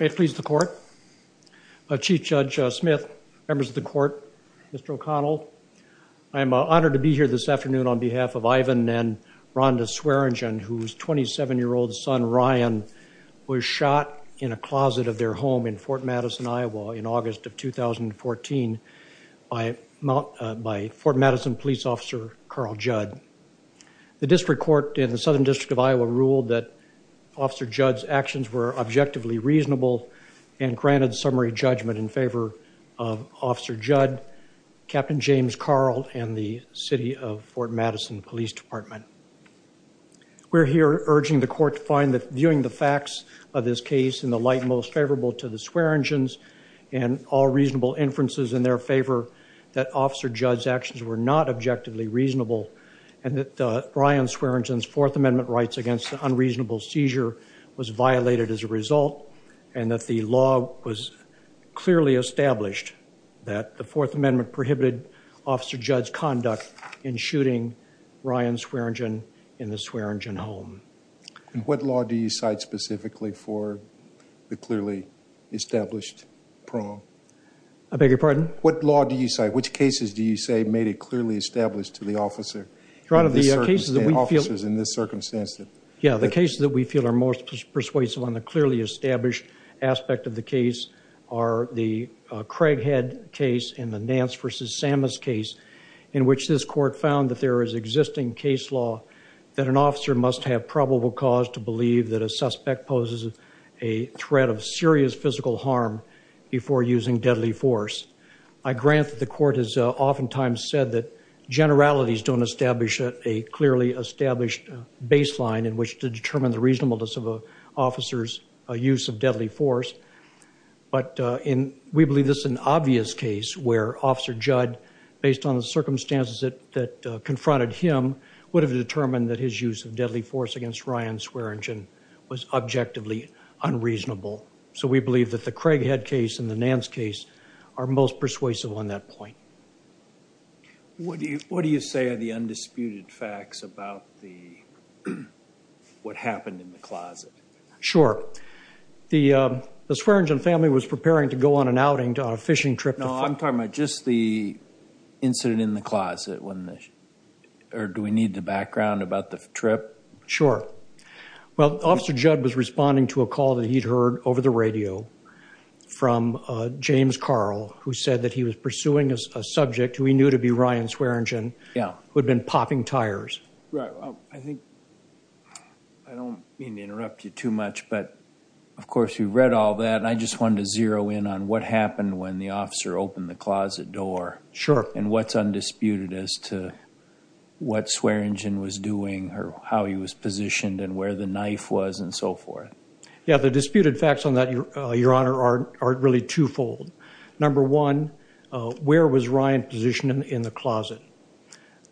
May it please the court. Chief Judge Smith, members of the court, Mr. O'Connell, I am honored to be here this afternoon on behalf of Ivan and Rhonda Swearingen whose 27 year old son Ryan was shot in a closet of their home in Fort Madison, Iowa in August of 2014 by Fort Madison police officer Carl Judd. The actions were objectively reasonable and granted summary judgment in favor of Officer Judd, Captain James Carle, and the city of Fort Madison Police Department. We're here urging the court to find that viewing the facts of this case in the light most favorable to the Swearingen's and all reasonable inferences in their favor that Officer Judd's actions were not objectively reasonable and that Ryan Swearingen's Fourth Amendment rights against the unreasonable seizure was violated as a result and that the law was clearly established that the Fourth Amendment prohibited Officer Judd's conduct in shooting Ryan Swearingen in the Swearingen home. And what law do you cite specifically for the clearly established prong? I beg your pardon? What law do you cite? Which cases do you say made it clearly established to the officer? Your Honor, the cases that we feel... most persuasive on the clearly established aspect of the case are the Craighead case and the Nance v. Sammas case in which this court found that there is existing case law that an officer must have probable cause to believe that a suspect poses a threat of serious physical harm before using deadly force. I grant that the court has oftentimes said that generalities don't establish a clearly established baseline in which to determine the reasonableness of an officer's use of deadly force, but we believe this is an obvious case where Officer Judd, based on the circumstances that confronted him, would have determined that his use of deadly force against Ryan Swearingen was objectively unreasonable. So we believe that the Craighead case and the Nance case are most persuasive on that point. What do you say are the Sure. The Swearingen family was preparing to go on an outing to a fishing trip. No, I'm talking about just the incident in the closet. Or do we need the background about the trip? Sure. Well, Officer Judd was responding to a call that he'd heard over the radio from James Carl, who said that he was pursuing a subject who he knew to be Ryan Swearingen, who had been popping tires. Right. I think, I don't mean to interrupt you too much, but of course we've read all that, and I just wanted to zero in on what happened when the officer opened the closet door. Sure. And what's undisputed as to what Swearingen was doing, or how he was positioned, and where the knife was, and so forth. Yeah, the disputed facts on that, Your Honor, are really twofold. Number one, where was Ryan positioned in the closet?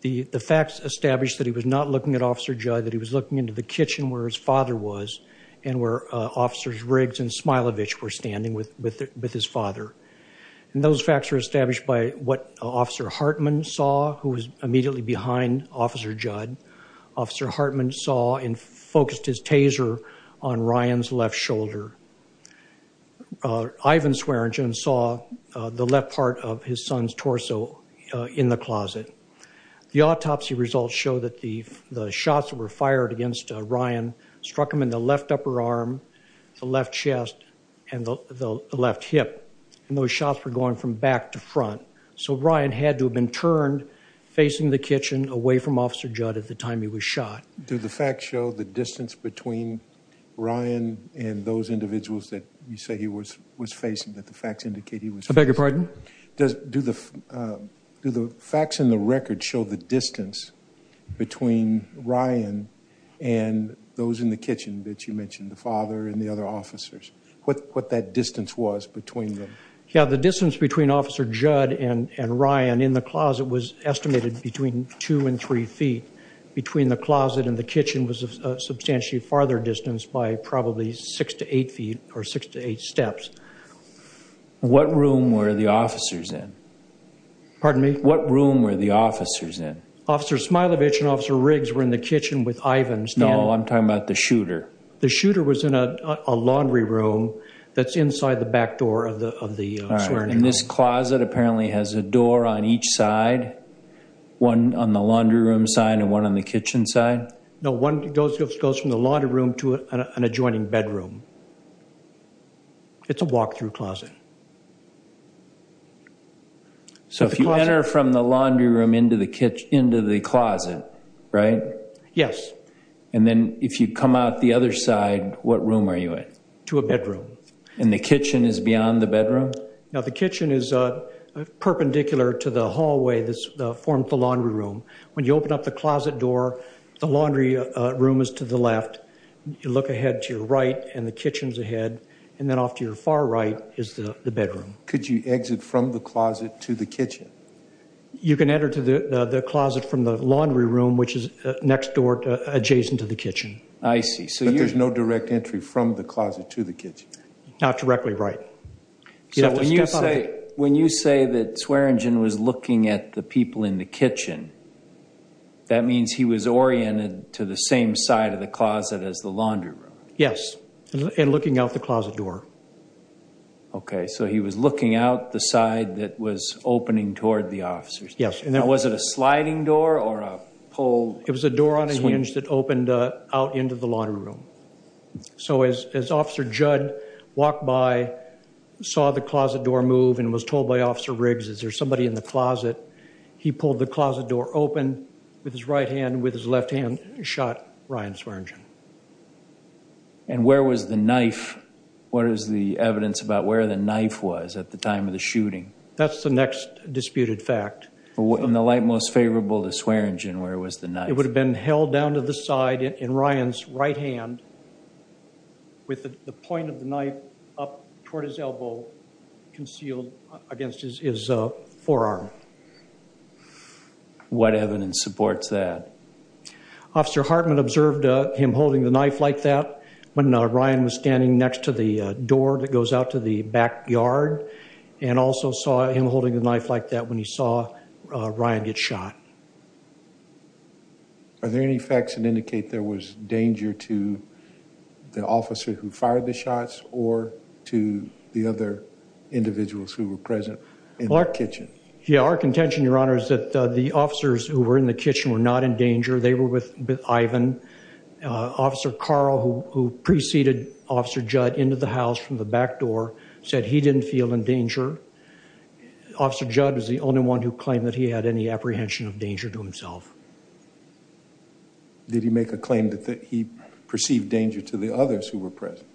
The facts established that he was not looking at Officer Judd, that he was looking into the kitchen where his father was, and where Officers Riggs and Smilovich were standing with his father. And those facts were established by what Officer Hartman saw, who was immediately behind Officer Judd. Officer Hartman saw and focused his taser on Ryan's left shoulder. Ivan Swearingen saw the left part of his son's torso in the closet. The autopsy results show that the shots that were fired against Ryan struck him in the left upper arm, the left chest, and the left hip. And those shots were going from back to front. So Ryan had to have been turned facing the kitchen away from Officer Judd at the time he was shot. Do the facts show the distance between Ryan and those individuals that you say he was was I beg your pardon? Do the facts in the record show the distance between Ryan and those in the kitchen that you mentioned, the father and the other officers? What that distance was between them? Yeah, the distance between Officer Judd and Ryan in the closet was estimated between two and three feet. Between the closet and the kitchen was a substantially farther distance by probably six to eight feet or six to eight steps. What room were the officers in? Pardon me? What room were the officers in? Officer Smilovich and Officer Riggs were in the kitchen with Ivan. No, I'm talking about the shooter. The shooter was in a laundry room that's inside the back door of the of the Swearingen. And this closet apparently has a door on each side, one on the laundry room side and one on the kitchen side? No, one goes from the laundry room to an adjoining bedroom. It's a walk-through closet. So if you enter from the laundry room into the kitchen into the closet, right? Yes. And then if you come out the other side, what room are you in? To a bedroom. And the kitchen is beyond the bedroom? No, the kitchen is a perpendicular to the hallway that's formed the laundry room. When you open up the closet door, the laundry room is to the left. You look ahead to your right and the kitchen's ahead. And then off to your far right is the bedroom. Could you exit from the closet to the kitchen? You can enter to the the closet from the laundry room, which is next door adjacent to the kitchen. I see. So there's no direct entry from the closet to the kitchen? Not directly, right. When you say that Swearingen was looking at the people in the kitchen, that means he was oriented to the same side of the closet as the laundry room? Yes, and looking out the closet door. Okay, so he was looking out the side that was opening toward the officers. Yes. And was it a sliding door or a pole? It was a door on a hinge that opened out into the laundry room. So as Officer Judd walked by, saw the closet door move, and was told by Officer Riggs, is there somebody in the closet? He pulled the And where was the knife? What is the evidence about where the knife was at the time of the shooting? That's the next disputed fact. From the light most favorable to Swearingen, where was the knife? It would have been held down to the side in Ryan's right hand with the point of the knife up toward his elbow concealed against his forearm. What evidence supports that? Officer Hartman observed him holding the knife like that when Ryan was standing next to the door that goes out to the backyard, and also saw him holding the knife like that when he saw Ryan get shot. Are there any facts that indicate there was danger to the officer who fired the shots or to the other individuals who were present in the kitchen? Yeah, our contention, Your Honor, is that the officers who were in the kitchen were not in danger. They were with Ivan. Officer Carl, who preceded Officer Judd into the house from the back door, said he didn't feel in danger. Officer Judd was the only one who claimed that he had any apprehension of danger to himself. Did he make a claim that he perceived danger to the others who were present?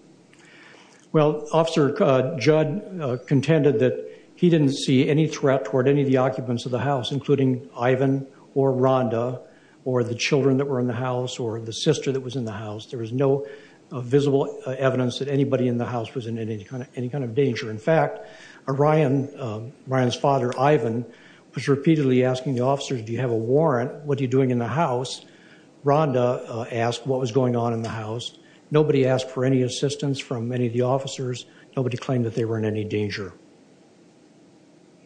Well, Officer Judd contended that he didn't see any threat toward any of the occupants of the house, including Ivan or Rhonda or the children that were in the house or the sister that was in the house. There was no visible evidence that anybody in the house was in any kind of danger. In fact, Ryan's father, Ivan, was repeatedly asking the officers, do you have a warrant? What are you doing in the house? Rhonda asked what was going on in the house. Nobody asked for any assistance from any of the officers. Nobody claimed that they were in any danger.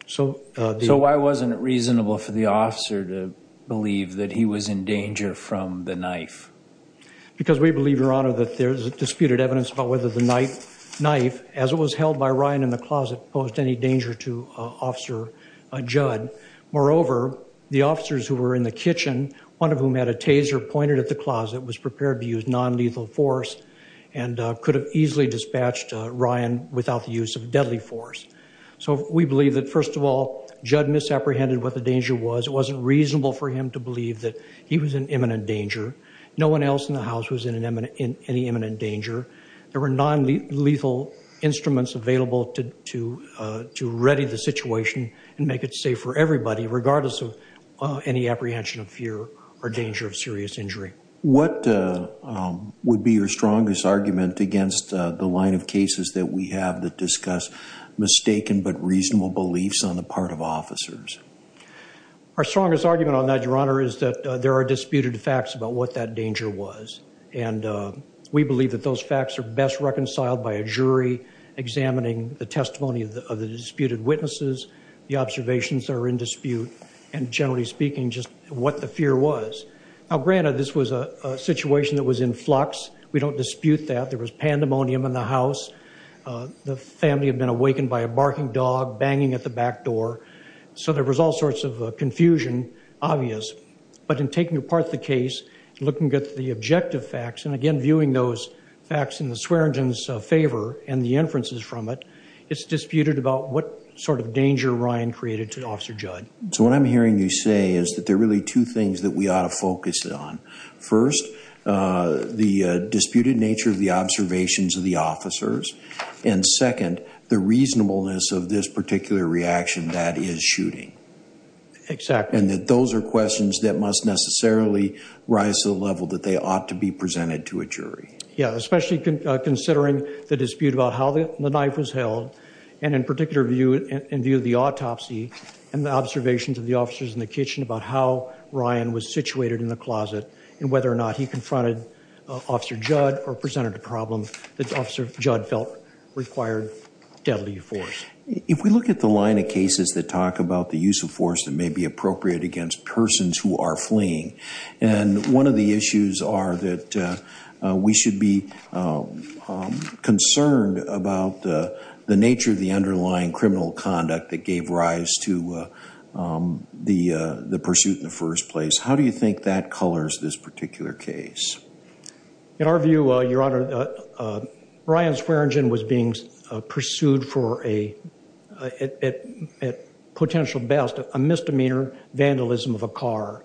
So why wasn't it reasonable for the officer to believe that he was in danger from the knife? Because we believe, Your Honor, that there's disputed evidence about whether the knife, as it was held by Ryan in the closet, posed any danger to Officer Judd. Moreover, the officers who were in the kitchen, one of whom had a taser pointed at the closet, was prepared to use non-lethal force and could have easily dispatched Ryan without the use of deadly force. So we believe that, first of all, Judd misapprehended what the danger was. It wasn't reasonable for him to believe that he was in imminent danger. No one else in the house was in any imminent danger. There were non-lethal instruments available to ready the situation and make it safe for everybody, regardless of any apprehension of fear or danger of serious injury. What would be your strongest argument against the line of cases that we have that discuss mistaken but reasonable beliefs on the part of officers? Our strongest argument on that, Your Honor, is that there are disputed facts about what that danger was. And we believe that those facts are best reconciled by a jury examining the testimony of the disputed witnesses, the Now, granted, this was a situation that was in flux. We don't dispute that. There was pandemonium in the house. The family had been awakened by a barking dog banging at the back door. So there was all sorts of confusion, obvious. But in taking apart the case, looking at the objective facts, and again viewing those facts in the Swearingen's favor and the inferences from it, it's disputed about what sort of danger Ryan created to Officer Judd. So what I'm hearing you say is that there are really two things that we ought to focus it on. First, the disputed nature of the observations of the officers. And second, the reasonableness of this particular reaction that is shooting. Exactly. And that those are questions that must necessarily rise to the level that they ought to be presented to a jury. Yeah, especially considering the dispute about how the knife was held, and in particular, in view of the autopsy and the officers in the kitchen, about how Ryan was situated in the closet, and whether or not he confronted Officer Judd or presented a problem that Officer Judd felt required deadly force. If we look at the line of cases that talk about the use of force that may be appropriate against persons who are fleeing, and one of the issues are that we should be concerned about the nature of the pursuit in the first place. How do you think that colors this particular case? In our view, Your Honor, Ryan Swearengin was being pursued for a, at potential best, a misdemeanor vandalism of a car.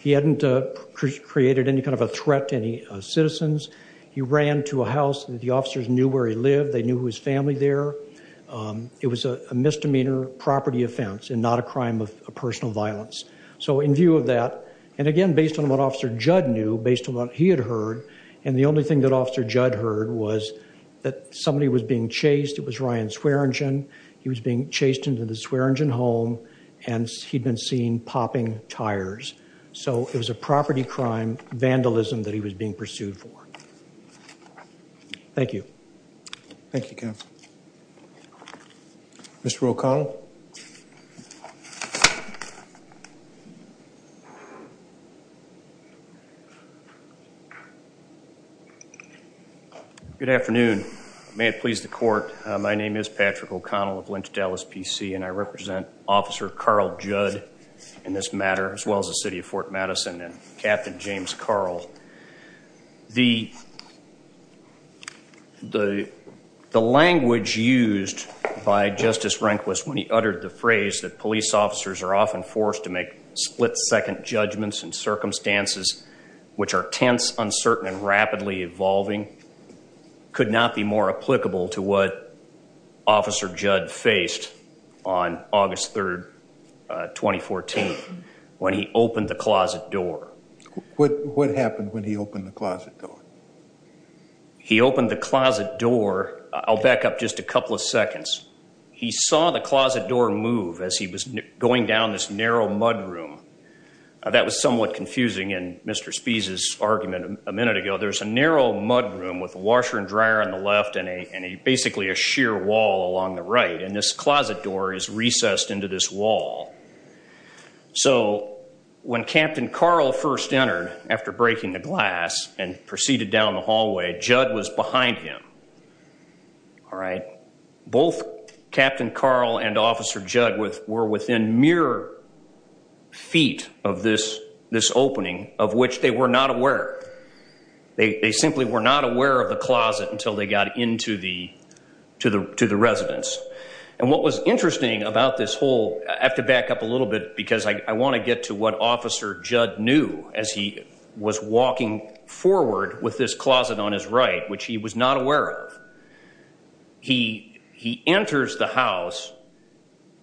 He hadn't created any kind of a threat to any citizens. He ran to a house. The officers knew where he lived. They knew his family there. It was a misdemeanor property offense and not a personal violence. So in view of that, and again based on what Officer Judd knew, based on what he had heard, and the only thing that Officer Judd heard was that somebody was being chased. It was Ryan Swearengin. He was being chased into the Swearengin home, and he'd been seen popping tires. So it was a property crime vandalism that he was being pursued for. Thank you. Thank you, counsel. Mr. O'Connell. Good afternoon. May it please the court, my name is Patrick O'Connell of Lynch Dallas PC, and I represent Officer Carl Judd in this matter, as well as the city of Fort Madison and Captain James Carl. The language used by Justice often forced to make split-second judgments and circumstances, which are tense, uncertain, and rapidly evolving, could not be more applicable to what Officer Judd faced on August 3rd, 2014, when he opened the closet door. What happened when he opened the closet door? He opened the closet door, I'll back up this narrow mudroom. That was somewhat confusing in Mr. Spee's argument a minute ago. There's a narrow mudroom with a washer and dryer on the left and a basically a sheer wall along the right, and this closet door is recessed into this wall. So when Captain Carl first entered, after breaking the glass and proceeded down the hallway, Judd was behind him. All right. Both Captain Carl and Officer Judd were within mere feet of this opening, of which they were not aware. They simply were not aware of the closet until they got into the residence. And what was interesting about this whole, I have to back up a little bit because I want to get to what Officer Judd knew as he was walking forward with this closet on his right, which he was not aware of. He enters the house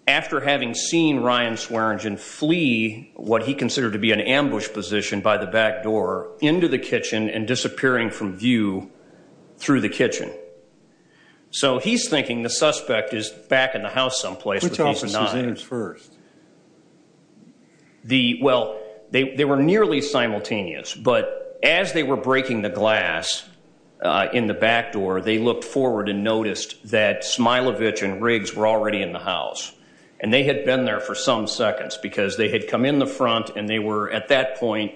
after having seen Ryan Swearengin flee what he considered to be an ambush position by the back door into the kitchen and disappearing from view through the kitchen. So he's thinking the suspect is back in the house someplace, but he's not. Which office was in first? Well, they were nearly simultaneous, but as they were breaking the glass in the back door, they looked forward and noticed that Smilovich and Riggs were already in the house. And they had been there for some seconds because they had come in the front and they were, at that point,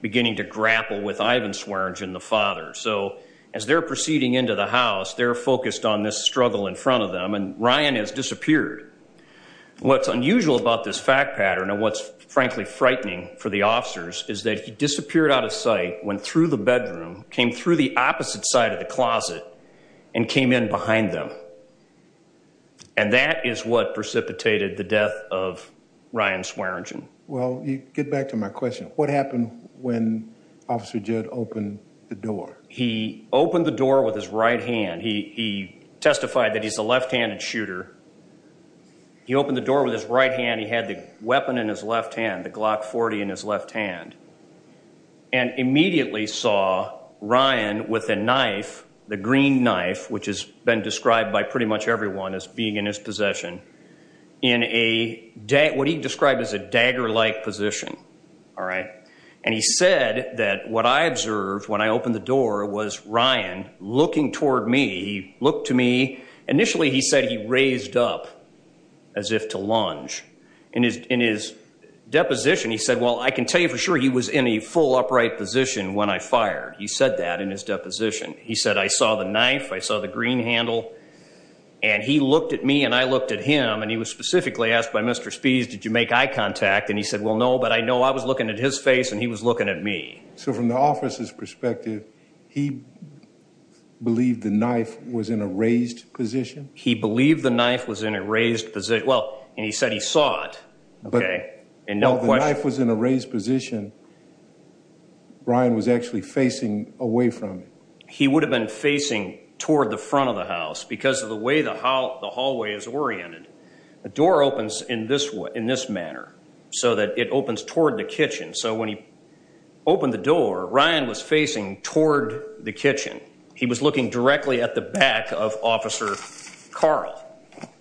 beginning to grapple with Ivan Swearengin, the father. So as they're proceeding into the house, they're focused on this struggle in front of them, and Ryan has disappeared. What's unusual about this fact pattern, and what's frankly frightening for the officers, is that he disappeared out of sight, went through the bedroom, came through the opposite side of the closet, and came in behind them. And that is what precipitated the death of Ryan Swearengin. Well, you get back to my question. What happened when Officer Judd opened the door? He opened the door with his right hand. He testified that he's a left-handed shooter. He opened the door with his right hand. He had the weapon in his left hand, the Glock 40 in his left hand, and immediately saw Ryan with a green knife, which has been described by pretty much everyone as being in his possession, in what he described as a dagger-like position. And he said that what I observed when I opened the door was Ryan looking toward me. He looked to me. Initially, he said he raised up as if to lunge. In his deposition, he said, well, I can tell you for sure he was in a full upright position when I fired. He said, I saw the knife. I saw the green handle. And he looked at me, and I looked at him. And he was specifically asked by Mr. Spies, did you make eye contact? And he said, well, no, but I know I was looking at his face, and he was looking at me. So from the officer's perspective, he believed the knife was in a raised position? He believed the knife was in a raised position. Well, and he said he saw it. Okay, and no question. The knife was in a raised position. Brian was actually facing away from it. He would have been facing toward the front of the house because of the way the hallway is oriented. The door opens in this manner so that it opens toward the kitchen. So when he opened the door, Ryan was facing toward the kitchen. He was looking directly at the back of Officer Carl.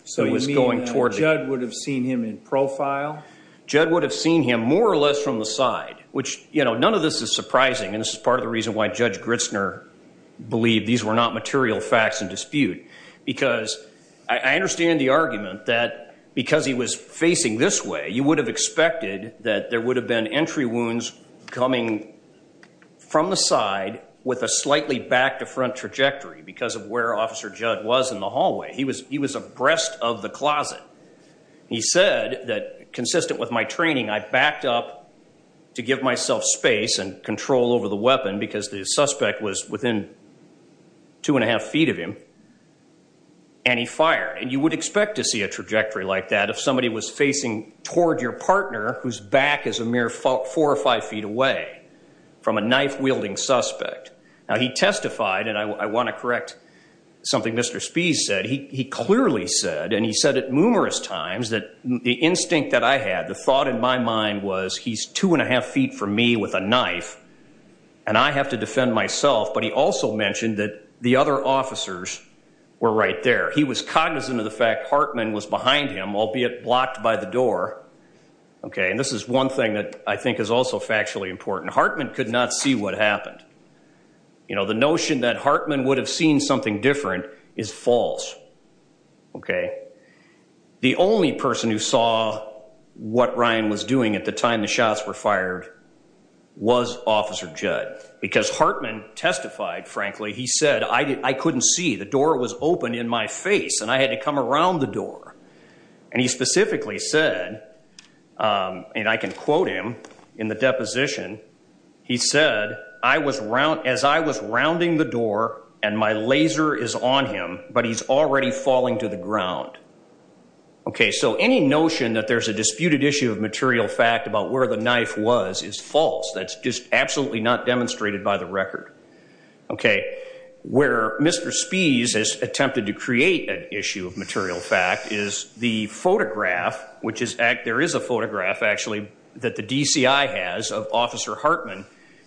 So you mean Judd would have seen him in profile? Judd would have seen him more or less from the side, which, you know, none of this is surprising. And this is part of the reason why Judge Gritzner believed these were not material facts in dispute. Because I understand the argument that because he was facing this way, you would have expected that there would have been entry wounds coming from the side with a slightly back to front trajectory because of where Officer Judd was in the hallway. He was abreast of the closet. He said that, consistent with my training, I backed up to give myself space and control over the weapon because the suspect was within two and a half feet of him, and he fired. And you would expect to see a trajectory like that if somebody was facing toward your partner whose back is a mere four or five feet away from a knife wielding suspect. Now he testified, and I want to correct something Mr. Spies said, he clearly said, and he said it numerous times, that the instinct that I had, the thought in my mind was, he's two and a half feet from me with a knife, and I have to defend myself. But he also mentioned that the other officers were right there. He was cognizant of the fact Hartman was behind him, albeit blocked by the door. Okay, and this is one thing that I think is also factually important. Hartman could not see what happened. You know, the notion that Hartman would have seen something different is false. Okay, the only person who saw what Ryan was doing at the time the shots were fired was Officer Judd. Because Hartman testified, frankly, he said, I couldn't see, the door was open in my face, and I had to come around the door. And he specifically said, and I can quote him in the deposition, he said, as I was rounding the door, and my laser is on him, but he's already falling to the ground. Okay, so any notion that there's a disputed issue of material fact about where the knife was is false. That's just absolutely not demonstrated by the record. Okay, where Mr. Spies has attempted to create an issue of material fact is the photograph, which is, there is a photograph actually, that the DCI has of Officer Hartman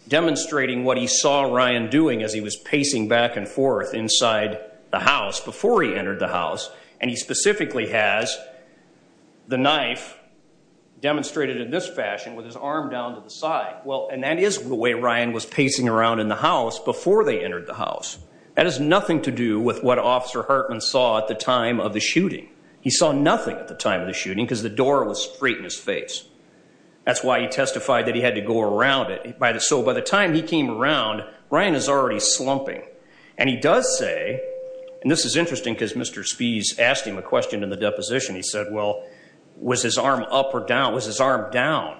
demonstrating what he saw Ryan doing as he was pacing back and forth inside the house before he entered the house. And he specifically has the knife demonstrated in this fashion with his arm down to the side. Well, and that is the way Ryan was pacing around in the house before they entered the house. That has nothing to do with what Officer Hartman saw at the time of the shooting. He saw nothing at the time of the shooting. That's why he testified that he had to go around it. So by the time he came around, Ryan is already slumping. And he does say, and this is interesting because Mr. Spies asked him a question in the deposition, he said, well, was his arm up or down? Was his arm down?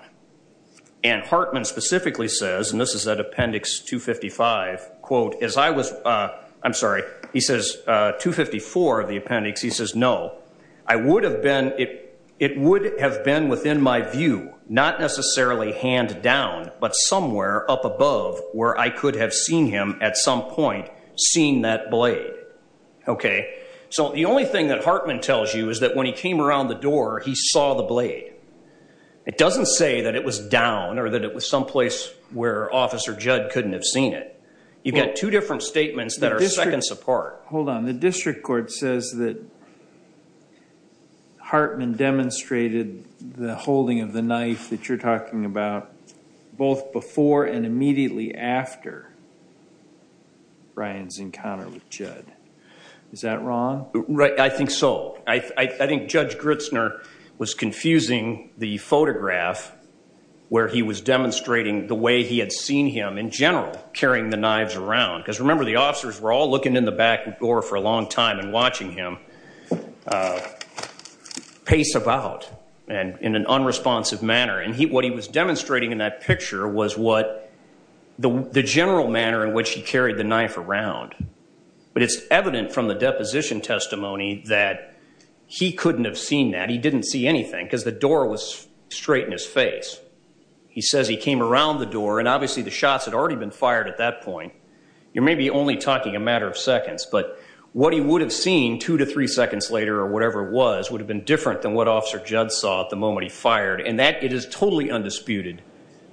And Hartman specifically says, and this is at appendix 255, quote, as I was, I'm sorry, he says, 254 of the appendix, he says, it would have been, it would have been within my view, not necessarily hand down, but somewhere up above where I could have seen him at some point seeing that blade. Okay, so the only thing that Hartman tells you is that when he came around the door, he saw the blade. It doesn't say that it was down or that it was someplace where Officer Judd couldn't have seen it. You've got two different statements that are seconds apart. Hold on, the District Court says that Hartman demonstrated the holding of the knife that you're talking about both before and immediately after Ryan's encounter with Judd. Is that wrong? Right, I think so. I think Judge Gritzner was confusing the photograph where he was demonstrating the way he had seen him in general carrying the knives around. Because remember, the officers were all looking in the back door for a long time and watching him pace about and in an unresponsive manner. And he, what he was demonstrating in that picture was what the general manner in which he carried the knife around. But it's evident from the deposition testimony that he couldn't have seen that. He didn't see anything because the door was straight in his face. He says he came around the door and obviously the shots had already been fired at that point. You may be only talking a matter of seconds, but what he would have seen two to three seconds later or whatever it was, would have been different than what Officer Judd saw at the moment he fired. And that, it is totally undisputed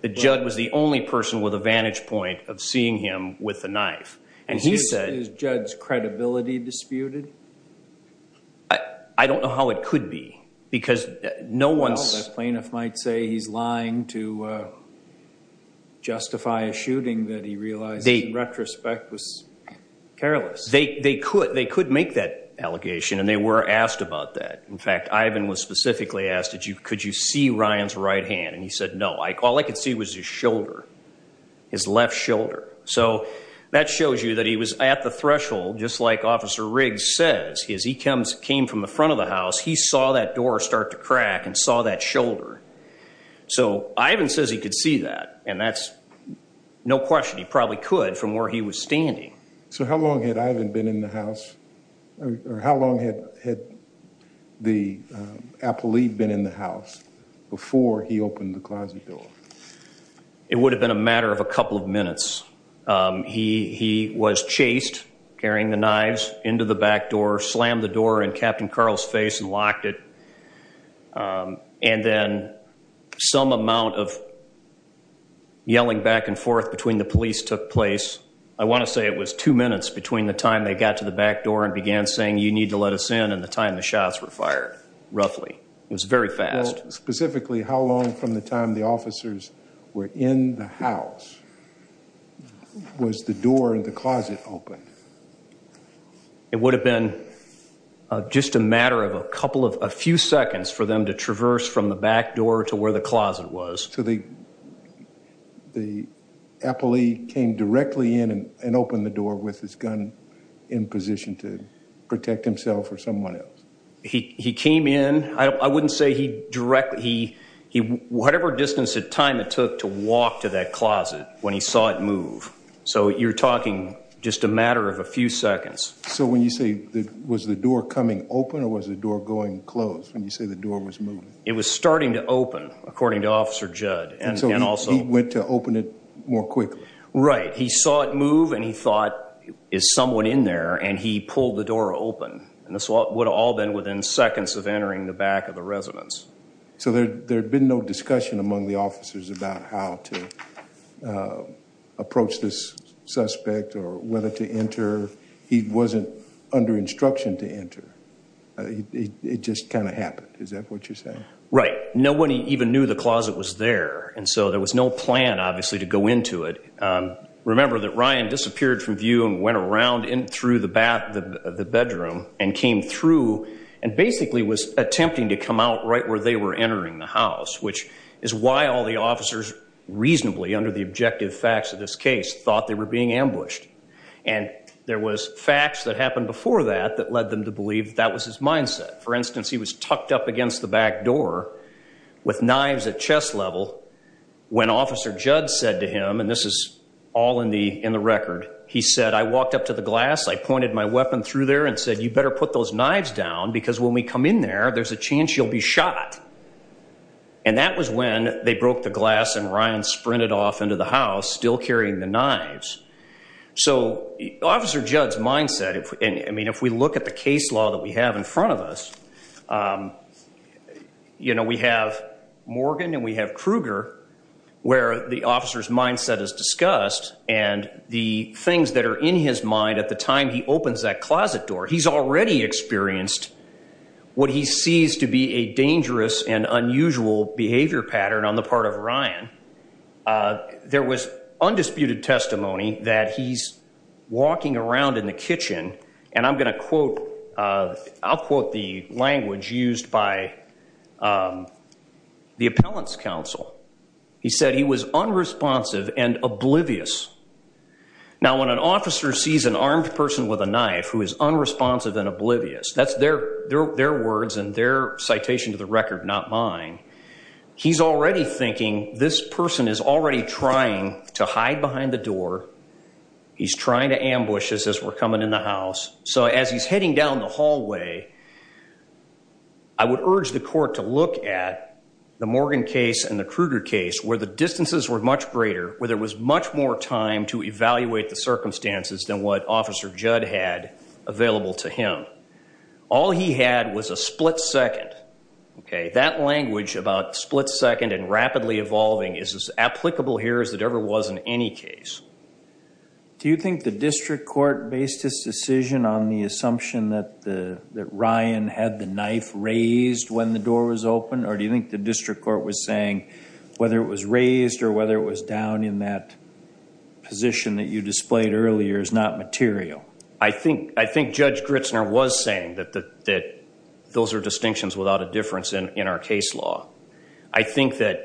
that Judd was the only person with a vantage point of seeing him with the knife. And he said... Is Judd's credibility disputed? I don't know how it could be because no one's... Well, the plaintiff might say he's lying to justify a retrospect was careless. They could make that allegation and they were asked about that. In fact, Ivan was specifically asked, could you see Ryan's right hand? And he said no. All I could see was his shoulder, his left shoulder. So that shows you that he was at the threshold just like Officer Riggs says. He came from the front of the house. He saw that door start to crack and saw that shoulder. So Ivan says he could see that and that's no he was standing. So how long had Ivan been in the house or how long had the appellee been in the house before he opened the closet door? It would have been a matter of a couple of minutes. He was chased, carrying the knives into the back door, slammed the door in Captain Carl's face and locked it. And then some amount of yelling back and forth between the police took place. I want to say it was two minutes between the time they got to the back door and began saying you need to let us in and the time the shots were fired, roughly. It was very fast. Specifically, how long from the time the officers were in the house was the door in the closet open? It would have been just a matter of a couple of a to traverse from the back door to where the closet was. So the the appellee came directly in and opened the door with his gun in position to protect himself or someone else? He came in, I wouldn't say he directly, he whatever distance at time it took to walk to that closet when he saw it move. So you're talking just a matter of a few seconds. So when you say that was the door coming open or was the door was moving? It was starting to open according to Officer Judd. And so he went to open it more quickly? Right. He saw it move and he thought is someone in there and he pulled the door open. And this would have all been within seconds of entering the back of the residence. So there had been no discussion among the officers about how to approach this suspect or whether to enter. He wasn't under instruction to enter. It just kind of happened. Is that what you're saying? Right. Nobody even knew the closet was there and so there was no plan obviously to go into it. Remember that Ryan disappeared from view and went around in through the bathroom and came through and basically was attempting to come out right where they were entering the house. Which is why all the officers reasonably under the objective facts of this case thought they were being that led them to believe that was his mindset. For instance he was tucked up against the back door with knives at chest level when Officer Judd said to him and this is all in the in the record he said I walked up to the glass I pointed my weapon through there and said you better put those knives down because when we come in there there's a chance you'll be shot. And that was when they broke the glass and Ryan sprinted off into the house still carrying the knives. So Officer Judd's mindset if I mean if we look at the case law that we have in front of us you know we have Morgan and we have Kruger where the officer's mindset is discussed and the things that are in his mind at the time he opens that closet door he's already experienced what he sees to be a dangerous and unusual behavior pattern on the part of Ryan. There was undisputed testimony that he's walking around in the kitchen and I'm gonna quote I'll quote the language used by the appellants counsel. He said he was unresponsive and oblivious. Now when an officer sees an armed person with a knife who is unresponsive and oblivious that's their their words and their citation to the record not mine. He's already thinking this person is already trying to hide behind the door. He's trying to ambush us as we're coming in the house. So as he's heading down the hallway I would urge the court to look at the Morgan case and the Kruger case where the distances were much greater where there was much more time to evaluate the circumstances than what Officer Judd had available to him. All he had was a split second okay that language about split-second and rapidly evolving is as applicable here as it ever was in any case. Do you think the district court based this decision on the assumption that the that Ryan had the knife raised when the door was open or do you think the district court was saying whether it was raised or whether it was down in that position that you displayed earlier is not material? I think I think Judge Gritzner was saying that that those are distinctions without a difference in in our case law. I think that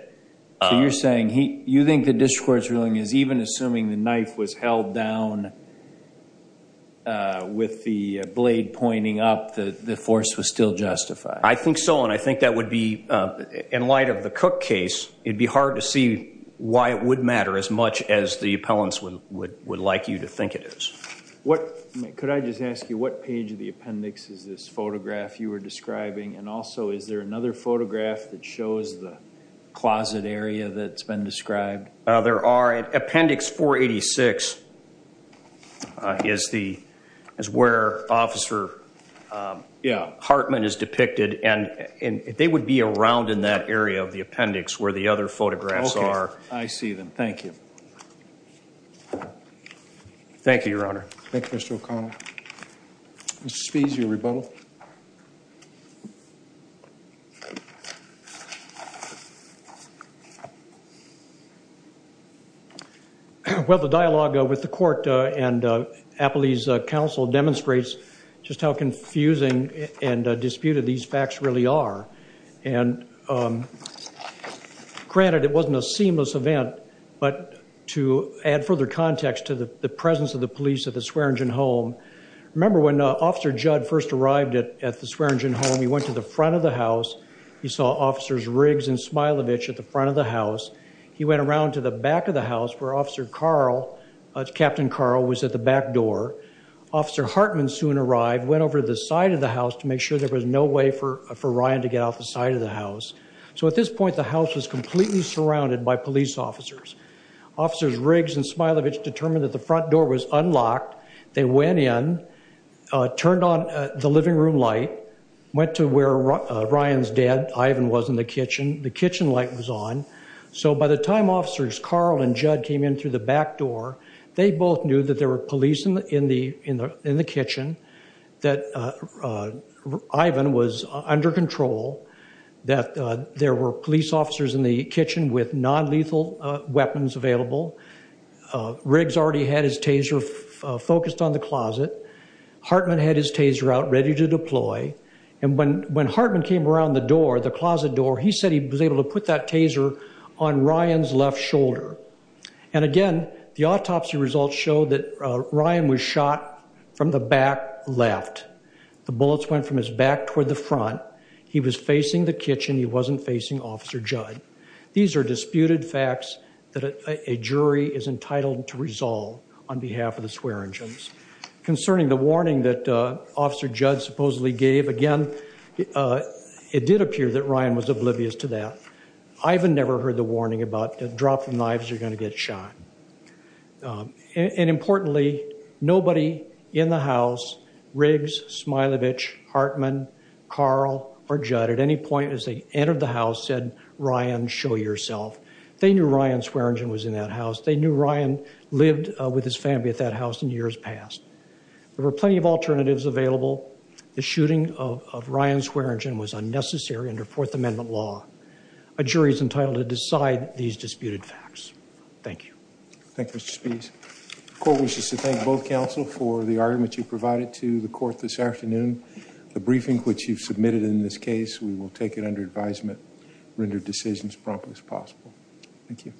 you're saying he you think the district court's ruling is even assuming the knife was held down with the blade pointing up that the force was still justified. I think so and I think that would be in light of the Cook case it'd be hard to see why it would matter as much as the appellants would would like you to think it is. What could I just ask you what page of the appendix is this photograph you were describing and also is there another photograph that shows the closet area that's been described? There are appendix 486 is the is where officer yeah Hartman is depicted and and they would be around in that area of the appendix where the other photographs are. I see them thank you. Thank you your honor. Thank you Mr. Well the dialogue with the court and Appley's council demonstrates just how confusing and disputed these facts really are and granted it wasn't a seamless event but to add further context to the presence of the police at the Swearingen home. Remember when officer Judd first arrived at at the Swearingen home he went to the front of the house. He saw officers Riggs and Smilovich at the front of the house. He went around to the back of the house where officer Carl, Captain Carl was at the back door. Officer Hartman soon arrived went over the side of the house to make sure there was no way for for Ryan to get off the side of the house. So at this point the house was completely surrounded by police officers. Officers Riggs and Smilovich determined that the room light went to where Ryan's dad Ivan was in the kitchen. The kitchen light was on so by the time officers Carl and Judd came in through the back door they both knew that there were police in the in the in the kitchen that Ivan was under control that there were police officers in the kitchen with non-lethal weapons available. Riggs already had his taser focused on the closet. Hartman had his taser out ready to deploy and when when Hartman came around the door the closet door he said he was able to put that taser on Ryan's left shoulder. And again the autopsy results show that Ryan was shot from the back left. The bullets went from his back toward the front. He was facing the kitchen he wasn't facing officer Judd. These are disputed facts that a jury is entitled to resolve on During the warning that officer Judd supposedly gave again it did appear that Ryan was oblivious to that. Ivan never heard the warning about the drop of knives you're gonna get shot. And importantly nobody in the house Riggs, Smilovich, Hartman, Carl or Judd at any point as they entered the house said Ryan show yourself. They knew Ryan Swearingen was in that house. They knew Ryan lived with his family at that There were plenty of alternatives available. The shooting of Ryan Swearingen was unnecessary under Fourth Amendment law. A jury is entitled to decide these disputed facts. Thank you. Thank you Mr. Spies. The court wishes to thank both counsel for the argument you provided to the court this afternoon. The briefing which you've submitted in this case we will take it under advisement, render decisions promptly as possible. Thank you.